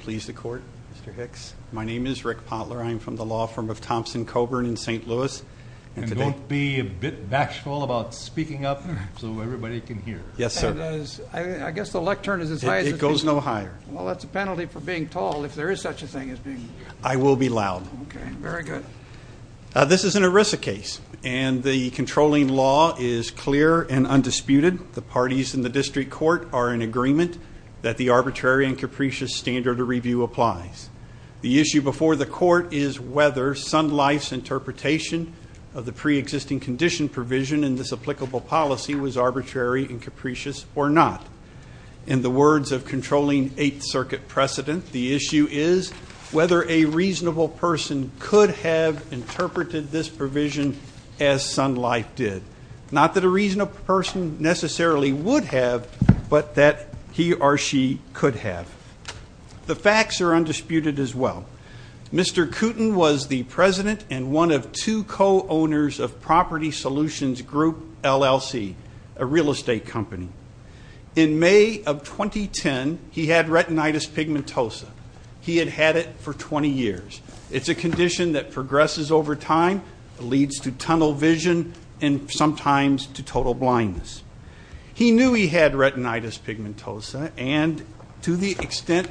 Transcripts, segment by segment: Please the court, Mr. Hicks. My name is Rick Potler. I'm from the law firm of Thompson-Coburn in St. Louis. And don't be a bit bashful about speaking up so everybody can hear. Yes, sir. I guess the lectern is as high as it goes. It goes no higher. Well, that's a penalty for being tall, if there is such a thing as being tall. I will be loud. Okay, very good. This is an ERISA case, and the controlling law is clear and undisputed. The parties in the district court are in agreement that the arbitrary and capricious standard of review applies. The issue before the court is whether Sun Life's interpretation of the preexisting condition provision in this applicable policy was arbitrary and capricious or not. In the words of controlling Eighth Circuit precedent, the issue is whether a reasonable person could have interpreted this provision as Sun Life did. Not that a reasonable person necessarily would have, but that he or she could have. The facts are undisputed as well. Mr. Kooten was the president and one of two co-owners of Property Solutions Group, LLC, a real estate company. In May of 2010, he had retinitis pigmentosa. He had had it for 20 years. It's a condition that progresses over time, leads to tunnel vision, and sometimes to total blindness. He knew he had retinitis pigmentosa, and to the extent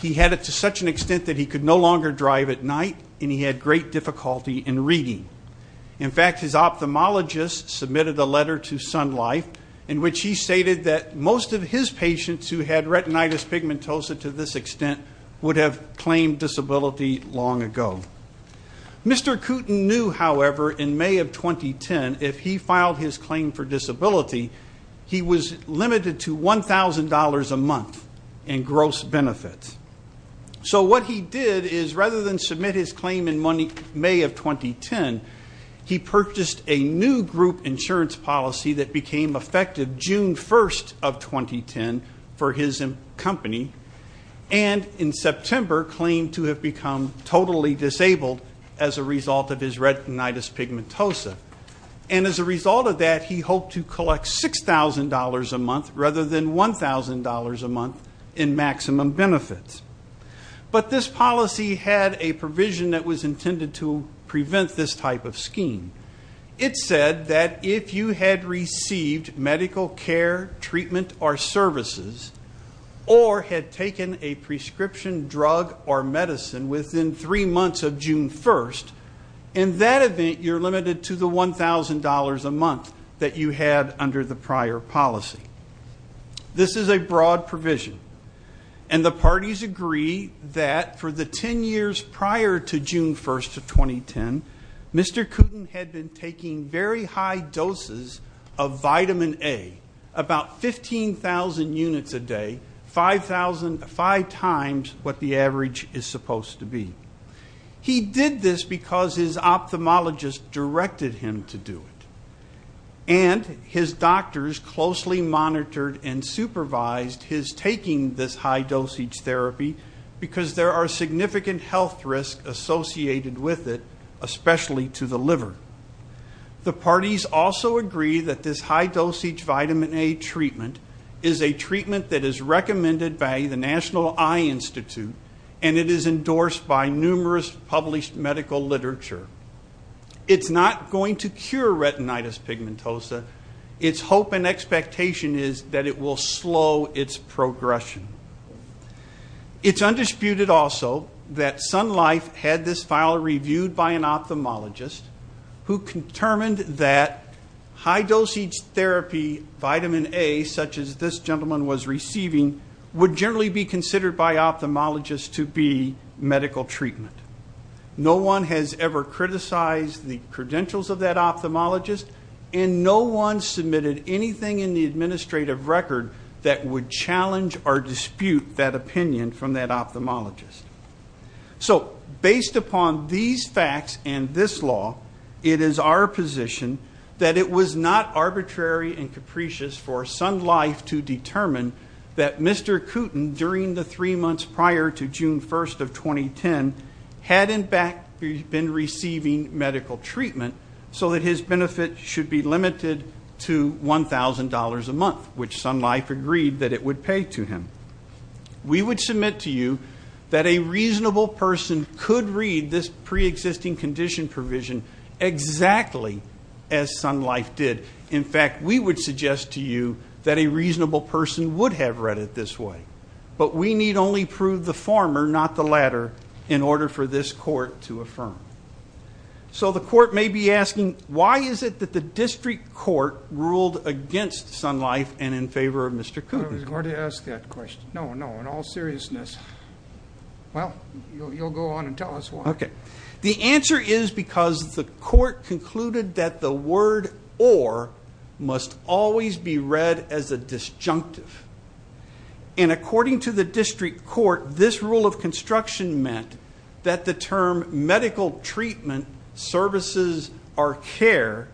he had it to such an extent that he could no longer drive at night, and he had great difficulty in reading. In fact, his ophthalmologist submitted a letter to Sun Life in which he stated that most of his patients who had retinitis pigmentosa to this extent would have claimed disability long ago. Mr. Kooten knew, however, in May of 2010, if he filed his claim for disability, he was limited to $1,000 a month in gross benefits. So what he did is rather than submit his claim in May of 2010, he purchased a new group insurance policy that became effective June 1st of 2010 for his company, and in September claimed to have become totally disabled as a result of his retinitis pigmentosa. And as a result of that, he hoped to collect $6,000 a month rather than $1,000 a month in maximum benefits. But this policy had a provision that was intended to prevent this type of scheme. It said that if you had received medical care, treatment, or services, or had taken a prescription drug or medicine within three months of June 1st, in that event, you're limited to the $1,000 a month that you had under the prior policy. This is a broad provision, and the parties agree that for the 10 years prior to June 1st of 2010, Mr. Kooten had been taking very high doses of vitamin A, about 15,000 units a day, five times what the average is supposed to be. He did this because his ophthalmologist directed him to do it. And his doctors closely monitored and supervised his taking this high-dosage therapy because there are significant health risks associated with it, especially to the liver. The parties also agree that this high-dosage vitamin A treatment is a treatment that is recommended by the National Eye Institute, and it is endorsed by numerous published medical literature. It's not going to cure retinitis pigmentosa. Its hope and expectation is that it will slow its progression. It's undisputed also that Sun Life had this file reviewed by an ophthalmologist who determined that high-dose therapy vitamin A, such as this gentleman was receiving, would generally be considered by ophthalmologists to be medical treatment. No one has ever criticized the credentials of that ophthalmologist, and no one submitted anything in the administrative record that would challenge or dispute that opinion from that ophthalmologist. So based upon these facts and this law, it is our position that it was not arbitrary and capricious for Sun Life to determine that Mr. Kooten, during the three months prior to June 1st of 2010, had in fact been receiving medical treatment so that his benefit should be limited to $1,000 a month, which Sun Life agreed that it would pay to him. We would submit to you that a reasonable person could read this preexisting condition provision exactly as Sun Life did. In fact, we would suggest to you that a reasonable person would have read it this way. But we need only prove the former, not the latter, in order for this court to affirm. So the court may be asking, why is it that the district court ruled against Sun Life and in favor of Mr. Kooten? I was going to ask that question. No, no, in all seriousness. Well, you'll go on and tell us why. Okay. The answer is because the court concluded that the word or must always be read as a disjunctive. And according to the district court, this rule of construction meant that the term medical treatment, services, or care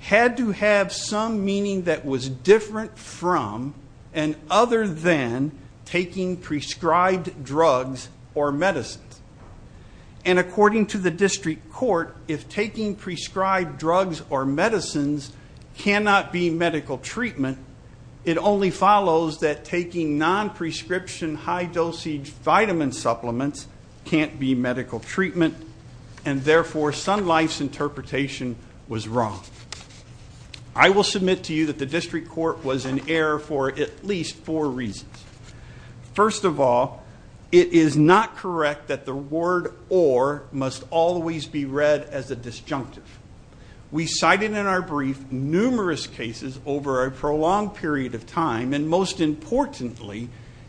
had to have some meaning that was different from and other than taking prescribed drugs or medicines. And according to the district court, if taking prescribed drugs or medicines cannot be medical treatment, it only follows that taking non-prescription high dosage vitamin supplements can't be medical treatment. And therefore, Sun Life's interpretation was wrong. I will submit to you that the district court was in error for at least four reasons. First of all, it is not correct that the word or must always be read as a disjunctive. We cited in our brief numerous cases over a prolonged period of time, and most importantly,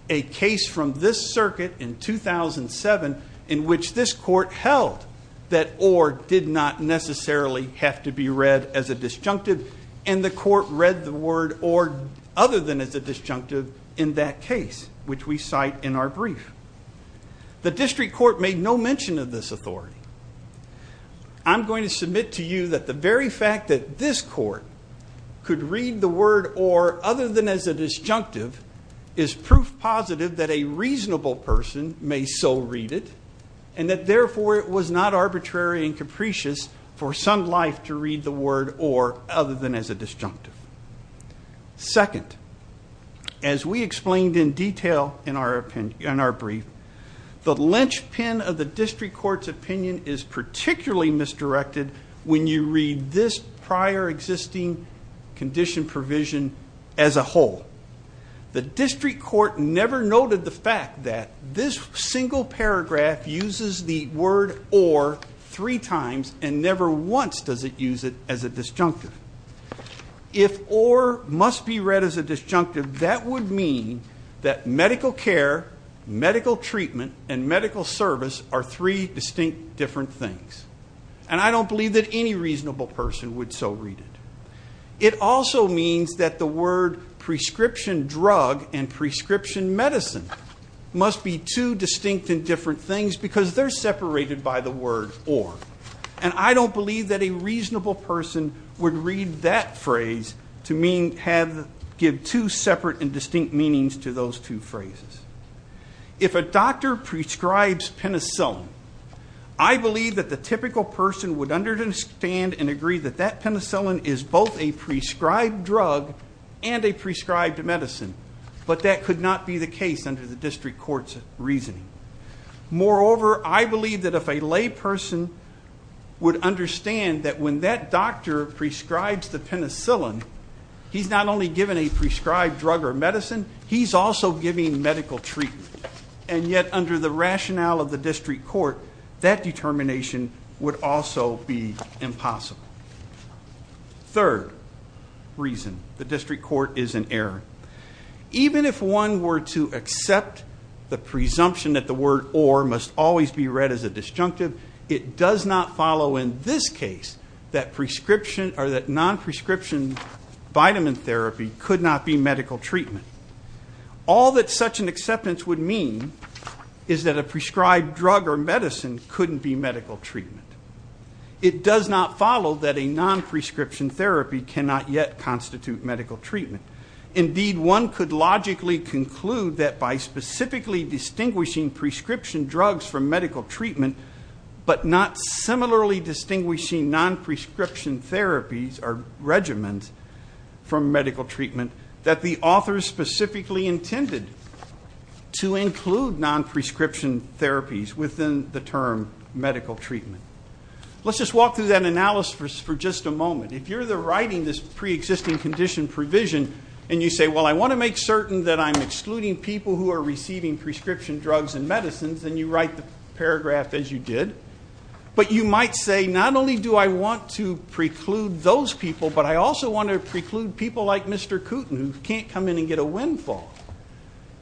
a case from this circuit in 2007 in which this court held that or did not necessarily have to be read as a disjunctive. And the court read the word or other than as a disjunctive in that case, which we cite in our brief. The district court made no mention of this authority. I'm going to submit to you that the very fact that this court could read the word or other than as a disjunctive is proof positive that a reasonable person may so read it, and that therefore it was not arbitrary and capricious for Sun Life to read the word or other than as a disjunctive. Second, as we explained in detail in our brief, the linchpin of the district court's opinion is particularly misdirected when you read this prior existing condition provision as a whole. The district court never noted the fact that this single paragraph uses the word or three times and never once does it use it as a disjunctive. If or must be read as a disjunctive, that would mean that medical care, medical treatment, and medical service are three distinct different things. And I don't believe that any reasonable person would so read it. It also means that the word prescription drug and prescription medicine must be two distinct and different things because they're separated by the word or. And I don't believe that a reasonable person would read that phrase to give two separate and distinct meanings to those two phrases. If a doctor prescribes penicillin, I believe that the typical person would understand and agree that that penicillin is both a prescribed drug and a prescribed medicine. But that could not be the case under the district court's reasoning. Moreover, I believe that if a lay person would understand that when that doctor prescribes the penicillin, he's not only given a prescribed drug or medicine, he's also giving medical treatment. And yet under the rationale of the district court, that determination would also be impossible. Third reason, the district court is in error. Even if one were to accept the presumption that the word or must always be read as a disjunctive, it does not follow in this case that non-prescription vitamin therapy could not be medical treatment. All that such an acceptance would mean is that a prescribed drug or medicine couldn't be medical treatment. It does not follow that a non-prescription therapy cannot yet constitute medical treatment. Indeed, one could logically conclude that by specifically distinguishing prescription drugs from medical treatment, but not similarly distinguishing non-prescription therapies or regimens from medical treatment, that the author specifically intended to include non-prescription therapies within the term medical treatment. Let's just walk through that analysis for just a moment. If you're writing this preexisting condition provision and you say, well, I want to make certain that I'm excluding people who are receiving prescription drugs and medicines, and you write the paragraph as you did, but you might say, not only do I want to preclude those people, but I also want to preclude people like Mr. Kooten who can't come in and get a windfall.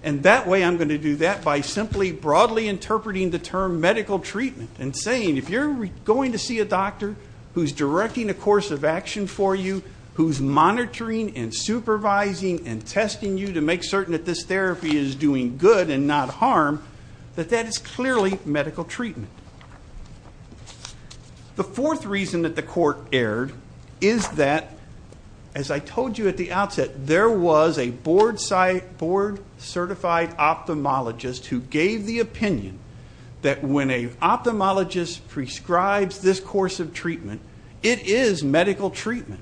And that way I'm going to do that by simply broadly interpreting the term medical treatment and saying, if you're going to see a doctor who's directing a course of action for you, who's monitoring and supervising and testing you to make certain that this therapy is doing good and not harm, that that is clearly medical treatment. The fourth reason that the court erred is that, as I told you at the outset, there was a board-certified ophthalmologist who gave the opinion that when an ophthalmologist prescribes this course of treatment, it is medical treatment.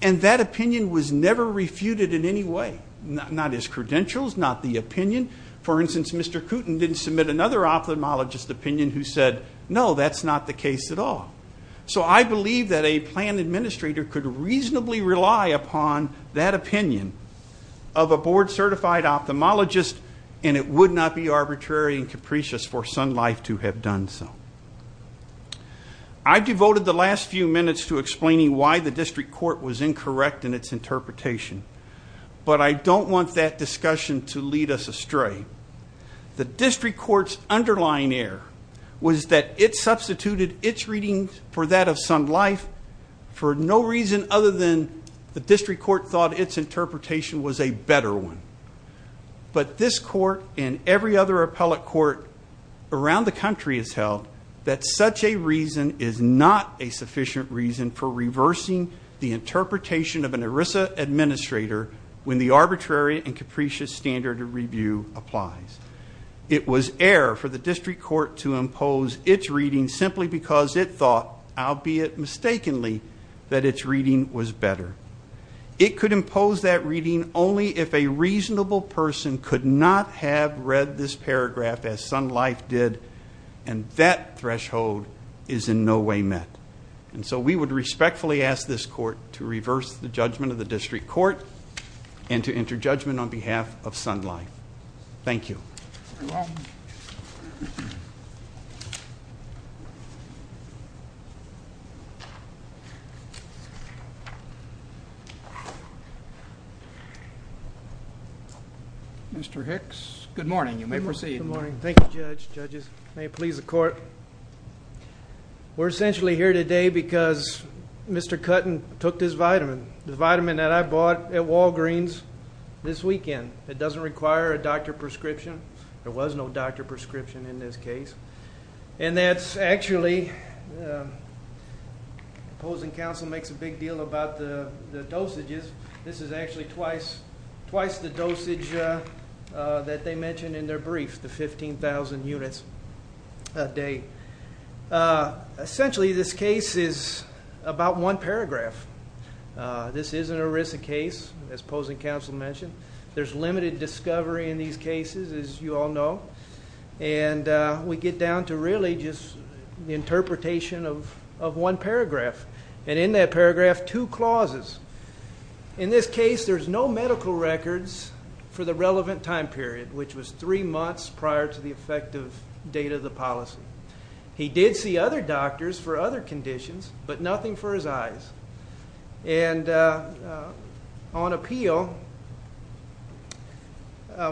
And that opinion was never refuted in any way, not his credentials, not the opinion. For instance, Mr. Kooten didn't submit another ophthalmologist opinion who said, no, that's not the case at all. So I believe that a plan administrator could reasonably rely upon that opinion of a board-certified ophthalmologist, and it would not be arbitrary and capricious for Sun Life to have done so. I devoted the last few minutes to explaining why the district court was incorrect in its interpretation, but I don't want that discussion to lead us astray. The district court's underlying error was that it substituted its readings for that of Sun Life for no reason other than the district court thought its interpretation was a better one. But this court and every other appellate court around the country has held that such a reason is not a sufficient reason for reversing the interpretation of an ERISA administrator when the arbitrary and capricious standard of review applies. It was error for the district court to impose its reading simply because it thought, albeit mistakenly, that its reading was better. It could impose that reading only if a reasonable person could not have read this paragraph as Sun Life did, and that threshold is in no way met. And so we would respectfully ask this court to reverse the judgment of the district court and to enter judgment on behalf of Sun Life. Thank you. Mr. Hicks, good morning. You may proceed. Thank you, Judge. Judges, may it please the court. We're essentially here today because Mr. Cutton took this vitamin, the vitamin that I bought at Walgreens, this weekend. It doesn't require a doctor prescription. There was no doctor prescription in this case. And that's actually opposing counsel makes a big deal about the dosages. This is actually twice the dosage that they mentioned in their brief, the 15,000 units a day. Essentially, this case is about one paragraph. This is an ERISA case, as opposing counsel mentioned. There's limited discovery in these cases, as you all know. And we get down to really just the interpretation of one paragraph. And in that paragraph, two clauses. In this case, there's no medical records for the relevant time period, which was three months prior to the effective date of the policy. He did see other doctors for other conditions, but nothing for his eyes. And on appeal,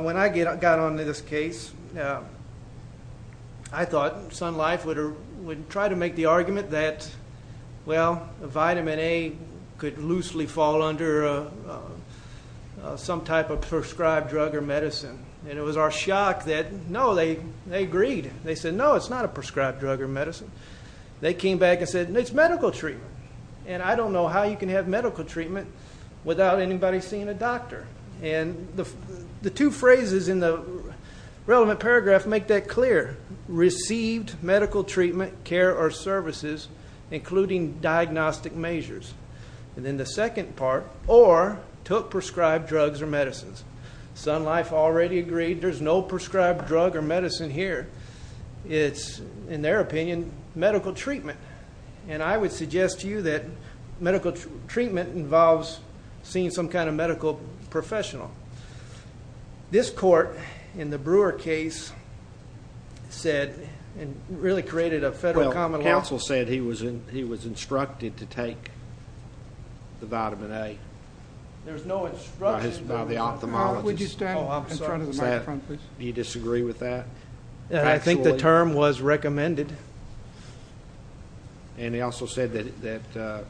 when I got onto this case, I thought Sun Life would try to make the argument that, well, vitamin A could loosely fall under some type of prescribed drug or medicine. And it was our shock that, no, they agreed. They said, no, it's not a prescribed drug or medicine. They came back and said, no, it's medical treatment. And I don't know how you can have medical treatment without anybody seeing a doctor. And the two phrases in the relevant paragraph make that clear. Received medical treatment, care, or services, including diagnostic measures. And then the second part, or took prescribed drugs or medicines. Sun Life already agreed there's no prescribed drug or medicine here. It's, in their opinion, medical treatment. And I would suggest to you that medical treatment involves seeing some kind of medical professional. This court, in the Brewer case, said and really created a federal common law. Well, counsel said he was instructed to take the vitamin A. There's no instruction by the ophthalmologist. Would you stand in front of the microphone, please? You disagree with that? I think the term was recommended. And he also said that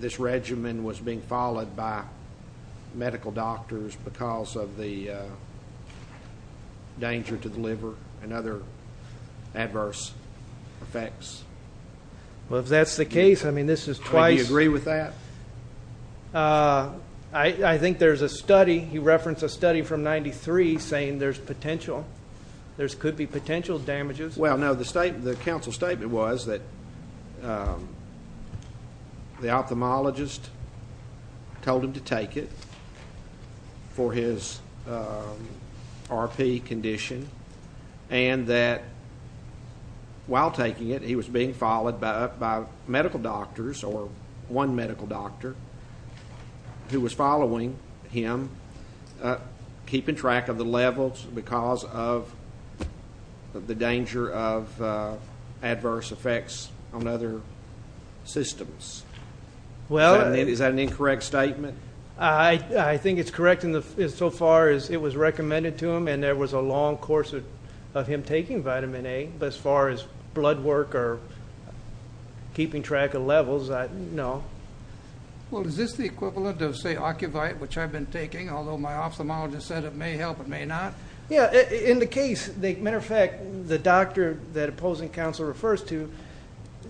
this regimen was being followed by medical doctors because of the danger to the liver and other adverse effects. Well, if that's the case, I mean, this is twice. Do you agree with that? I think there's a study. He referenced a study from 93 saying there's potential. There could be potential damages. Well, no, the counsel's statement was that the ophthalmologist told him to take it for his RP condition and that while taking it he was being followed by medical doctors or one medical doctor who was following him, keeping track of the levels because of the danger of adverse effects on other systems. Is that an incorrect statement? I think it's correct insofar as it was recommended to him and there was a long course of him taking vitamin A. As far as blood work or keeping track of levels, no. Well, is this the equivalent of, say, Ocuvite, which I've been taking, although my ophthalmologist said it may help, it may not? Yeah, in the case, as a matter of fact, the doctor that opposing counsel refers to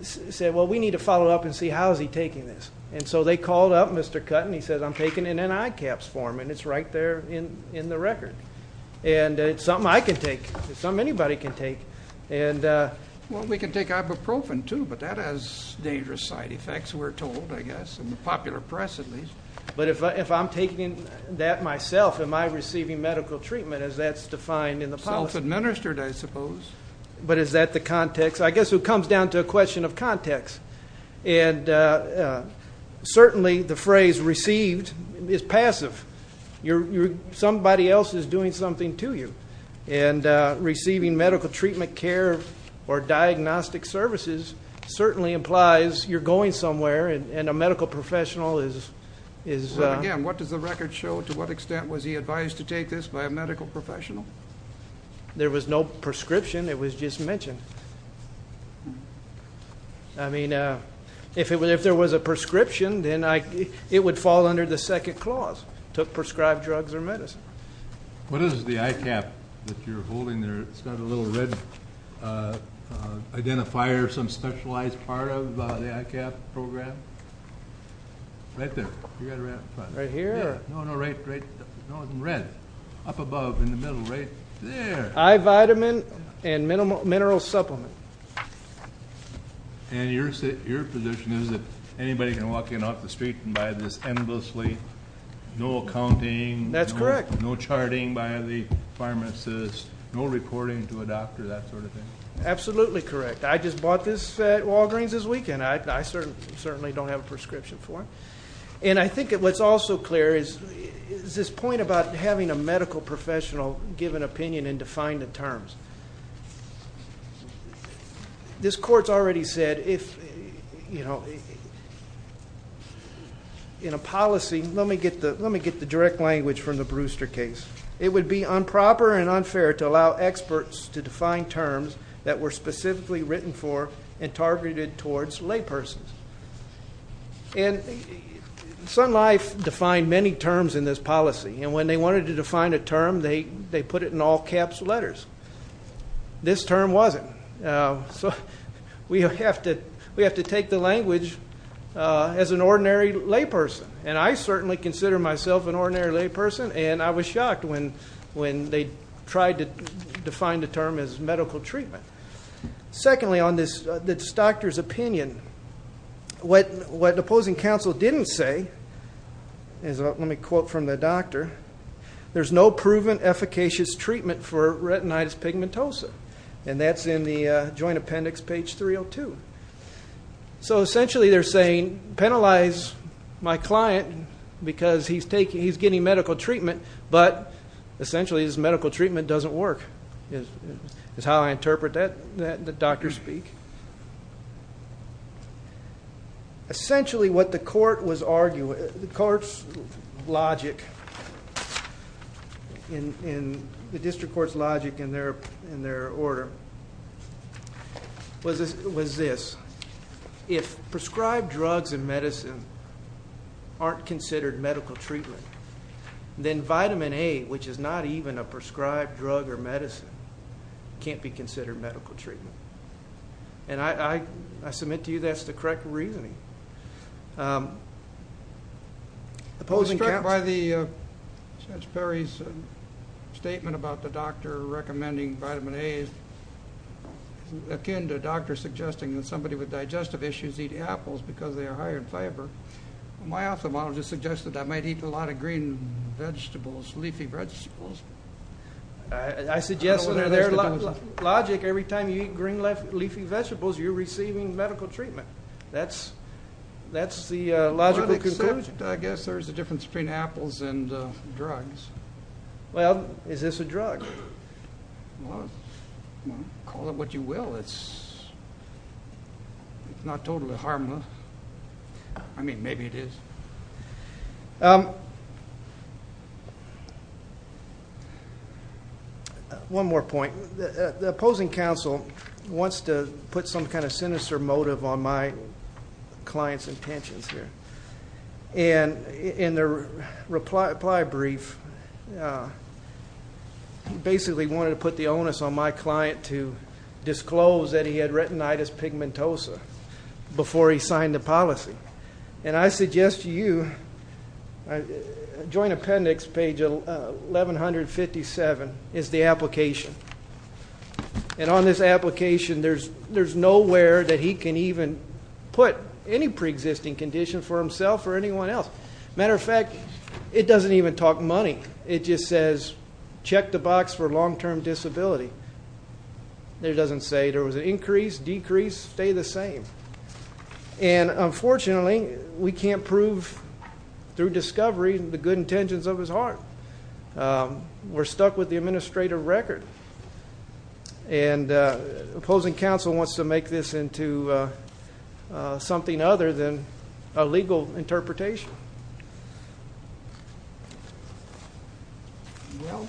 said, well, we need to follow up and see how is he taking this. And so they called up Mr. Cutton. He said, I'm taking it in ICAPS form, and it's right there in the record. And it's something I can take. It's something anybody can take. Well, we can take ibuprofen, too, but that has dangerous side effects, we're told, I guess, in the popular press at least. But if I'm taking that myself, am I receiving medical treatment as that's defined in the policy? Self-administered, I suppose. But is that the context? I guess it comes down to a question of context. And certainly the phrase received is passive. Somebody else is doing something to you. And receiving medical treatment, care, or diagnostic services certainly implies you're going somewhere, and a medical professional is ‑‑ Well, again, what does the record show? To what extent was he advised to take this by a medical professional? There was no prescription. It was just mentioned. I mean, if there was a prescription, then it would fall under the second clause, took prescribed drugs or medicine. What is the ICAP that you're holding there? It's got a little red identifier, some specialized part of the ICAP program. Right there. Right here? No, no, right, no, in red, up above in the middle, right there. I-vitamin and mineral supplement. And your position is that anybody can walk in off the street and buy this endlessly, no accounting. That's correct. No charting by the pharmacist, no reporting to a doctor, that sort of thing. Absolutely correct. I just bought this at Walgreens this weekend. I certainly don't have a prescription for it. And I think what's also clear is this point about having a medical professional give an opinion and define the terms. This court's already said if, you know, in a policy, let me get the direct language from the Brewster case, it would be improper and unfair to allow experts to define terms that were specifically written for and targeted towards laypersons. And Sun Life defined many terms in this policy. And when they wanted to define a term, they put it in all-caps letters. This term wasn't. So we have to take the language as an ordinary layperson. And I certainly consider myself an ordinary layperson, and I was shocked when they tried to define the term as medical treatment. Secondly, on this doctor's opinion, what the opposing counsel didn't say is, let me quote from the doctor, there's no proven efficacious treatment for retinitis pigmentosa. And that's in the joint appendix, page 302. So essentially they're saying, penalize my client because he's getting medical treatment, but essentially this medical treatment doesn't work is how I interpret that doctor speak. Essentially what the court was arguing, the court's logic, the district court's logic in their order was this. If prescribed drugs and medicine aren't considered medical treatment, then vitamin A, which is not even a prescribed drug or medicine, can't be considered medical treatment. And I submit to you that's the correct reasoning. Opposing counsel. I was struck by Judge Perry's statement about the doctor recommending vitamin A, which is akin to a doctor suggesting that somebody with digestive issues eat apples because they are high in fiber. My ophthalmologist suggested I might eat a lot of green vegetables, leafy vegetables. I suggest that their logic, every time you eat green, leafy vegetables, you're receiving medical treatment. That's the logical conclusion. Well, except I guess there's a difference between apples and drugs. Well, is this a drug? Call it what you will. It's not totally harmless. I mean, maybe it is. One more point. The opposing counsel wants to put some kind of sinister motive on my client's intentions here. And in the reply brief, he basically wanted to put the onus on my client to disclose that he had retinitis pigmentosa before he signed the policy. And I suggest to you, Joint Appendix, page 1157, is the application. And on this application, there's nowhere that he can even put any preexisting condition for himself or anyone else. Matter of fact, it doesn't even talk money. It just says, check the box for long-term disability. It doesn't say there was an increase, decrease, stay the same. And unfortunately, we can't prove through discovery the good intentions of his heart. We're stuck with the administrative record. And opposing counsel wants to make this into something other than a legal interpretation. Well,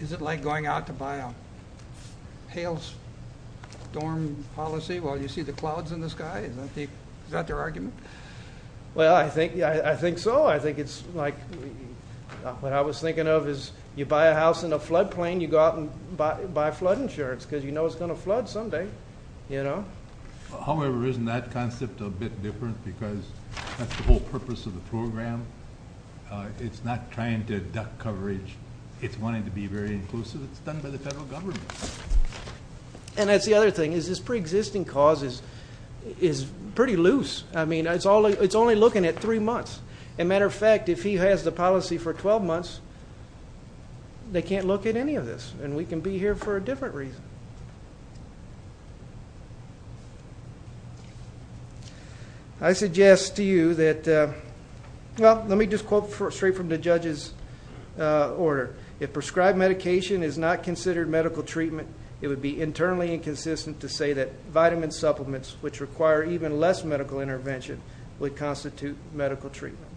is it like going out to buy a Hales dorm policy while you see the clouds in the sky? Is that their argument? Well, I think so. I think it's like what I was thinking of is you buy a house in a floodplain, you go out and buy flood insurance because you know it's going to flood someday. However, isn't that concept a bit different because that's the whole purpose of the program. It's not trying to duck coverage. It's wanting to be very inclusive. It's done by the federal government. And that's the other thing is this preexisting cause is pretty loose. I mean, it's only looking at three months. As a matter of fact, if he has the policy for 12 months, they can't look at any of this. And we can be here for a different reason. I suggest to you that, well, let me just quote straight from the judge's order. If prescribed medication is not considered medical treatment, it would be internally inconsistent to say that vitamin supplements, which require even less medical intervention, would constitute medical treatment.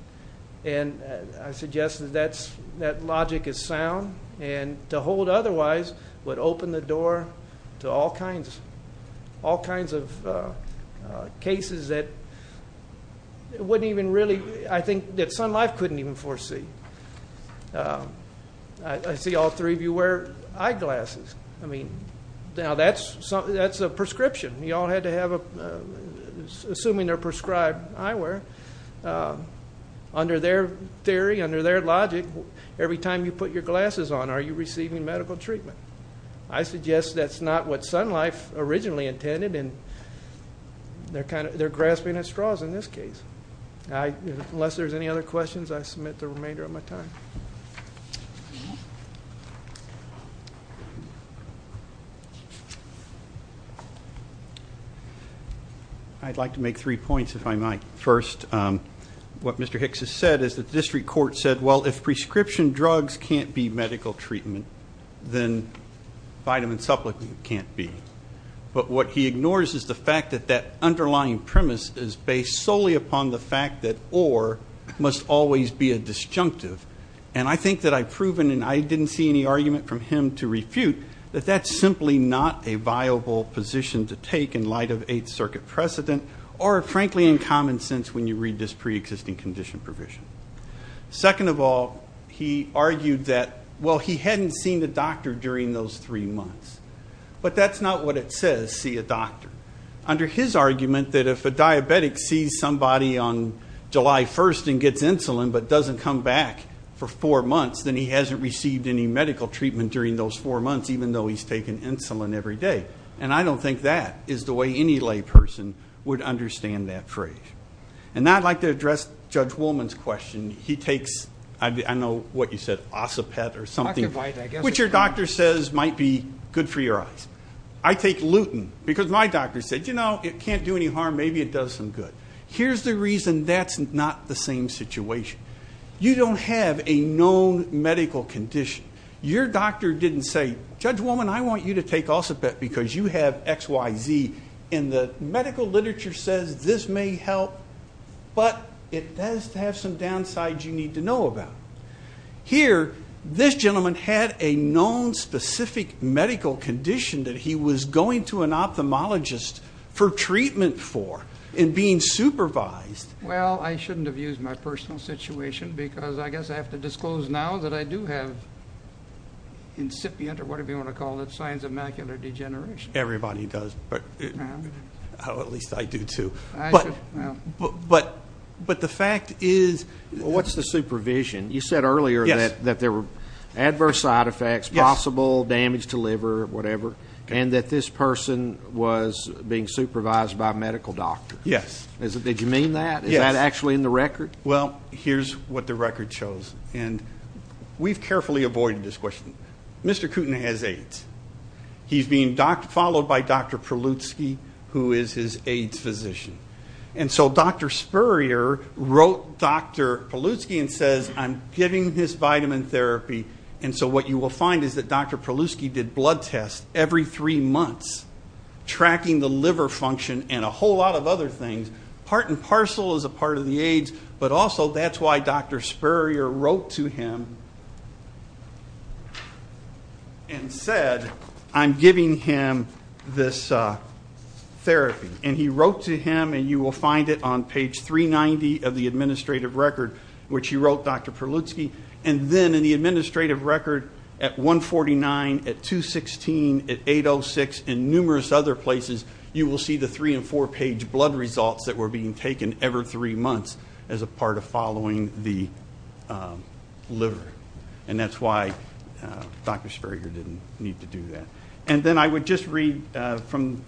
And I suggest that that logic is sound. And to hold otherwise would open the door to all kinds of cases that wouldn't even really, I think, that some life couldn't even foresee. I see all three of you wear eyeglasses. I mean, now that's a prescription. You all had to have a, assuming they're prescribed eyewear, under their theory, under their logic, every time you put your glasses on, are you receiving medical treatment? I suggest that's not what Sun Life originally intended, and they're grasping at straws in this case. Unless there's any other questions, I submit the remainder of my time. I'd like to make three points, if I might. First, what Mr. Hicks has said is that the district court said, well, if prescription drugs can't be medical treatment, then vitamin supplements can't be. But what he ignores is the fact that that underlying premise is based solely upon the fact that or must always be a disjunctive. And I think that I've proven, and I didn't see any argument from him to refute, that that's simply not a viable position to take in light of Eighth Circuit precedent or, frankly, in common sense when you read this preexisting condition provision. Second of all, he argued that, well, he hadn't seen the doctor during those three months. But that's not what it says, see a doctor. Under his argument that if a diabetic sees somebody on July 1st and gets insulin but doesn't come back for four months, then he hasn't received any medical treatment during those four months, even though he's taken insulin every day. And I don't think that is the way any lay person would understand that phrase. And now I'd like to address Judge Woolman's question. He takes, I know what you said, Ossipet or something, which your doctor says might be good for your eyes. I take lutein because my doctor said, you know, it can't do any harm, maybe it does some good. Here's the reason that's not the same situation. You don't have a known medical condition. Your doctor didn't say, Judge Woolman, I want you to take Ossipet because you have XYZ. And the medical literature says this may help, but it does have some downsides you need to know about. Here, this gentleman had a known specific medical condition that he was going to an ophthalmologist for treatment for and being supervised. Well, I shouldn't have used my personal situation because I guess I have to disclose now that I do have incipient or whatever you want to call it, signs of macular degeneration. Everybody does, or at least I do too. But the fact is. What's the supervision? You said earlier that there were adverse side effects, possible damage to liver, whatever, and that this person was being supervised by a medical doctor. Yes. Did you mean that? Yes. Is that actually in the record? Well, here's what the record shows. And we've carefully avoided this question. Mr. Kooten has AIDS. He's being followed by Dr. Polutsky, who is his AIDS physician. And so Dr. Spurrier wrote Dr. Polutsky and says, I'm giving this vitamin therapy, and so what you will find is that Dr. Polutsky did blood tests every three months, tracking the liver function and a whole lot of other things, part and parcel as a part of the AIDS, but also that's why Dr. Spurrier wrote to him and said, I'm giving him this therapy. And he wrote to him, and you will find it on page 390 of the administrative record, which he wrote Dr. Polutsky, and then in the administrative record at 149, at 216, at 806, and numerous other places, you will see the three- and four-page blood results that were being taken every three months as a part of following the liver. And that's why Dr. Spurrier didn't need to do that. And then I would just read from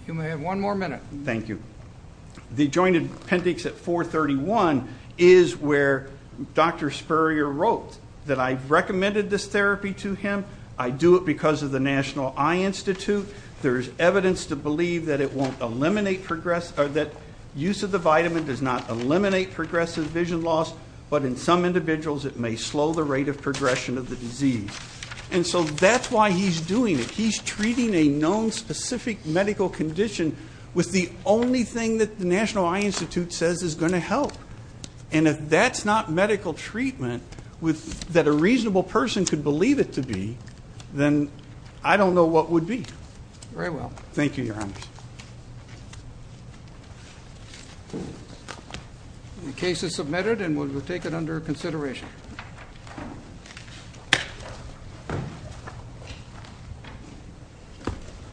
the joint appendix at 431, is where Dr. Spurrier wrote that I recommended this therapy to him. I do it because of the National Eye Institute. There is evidence to believe that it won't eliminate progress or that use of the vitamin does not eliminate progressive vision loss, but in some individuals it may slow the rate of progression of the disease. And so that's why he's doing it. He's treating a known specific medical condition with the only thing that the National Eye Institute says is going to help. And if that's not medical treatment that a reasonable person could believe it to be, then I don't know what would be. Very well. Thank you, Your Honors. The case is submitted and we'll take it under consideration.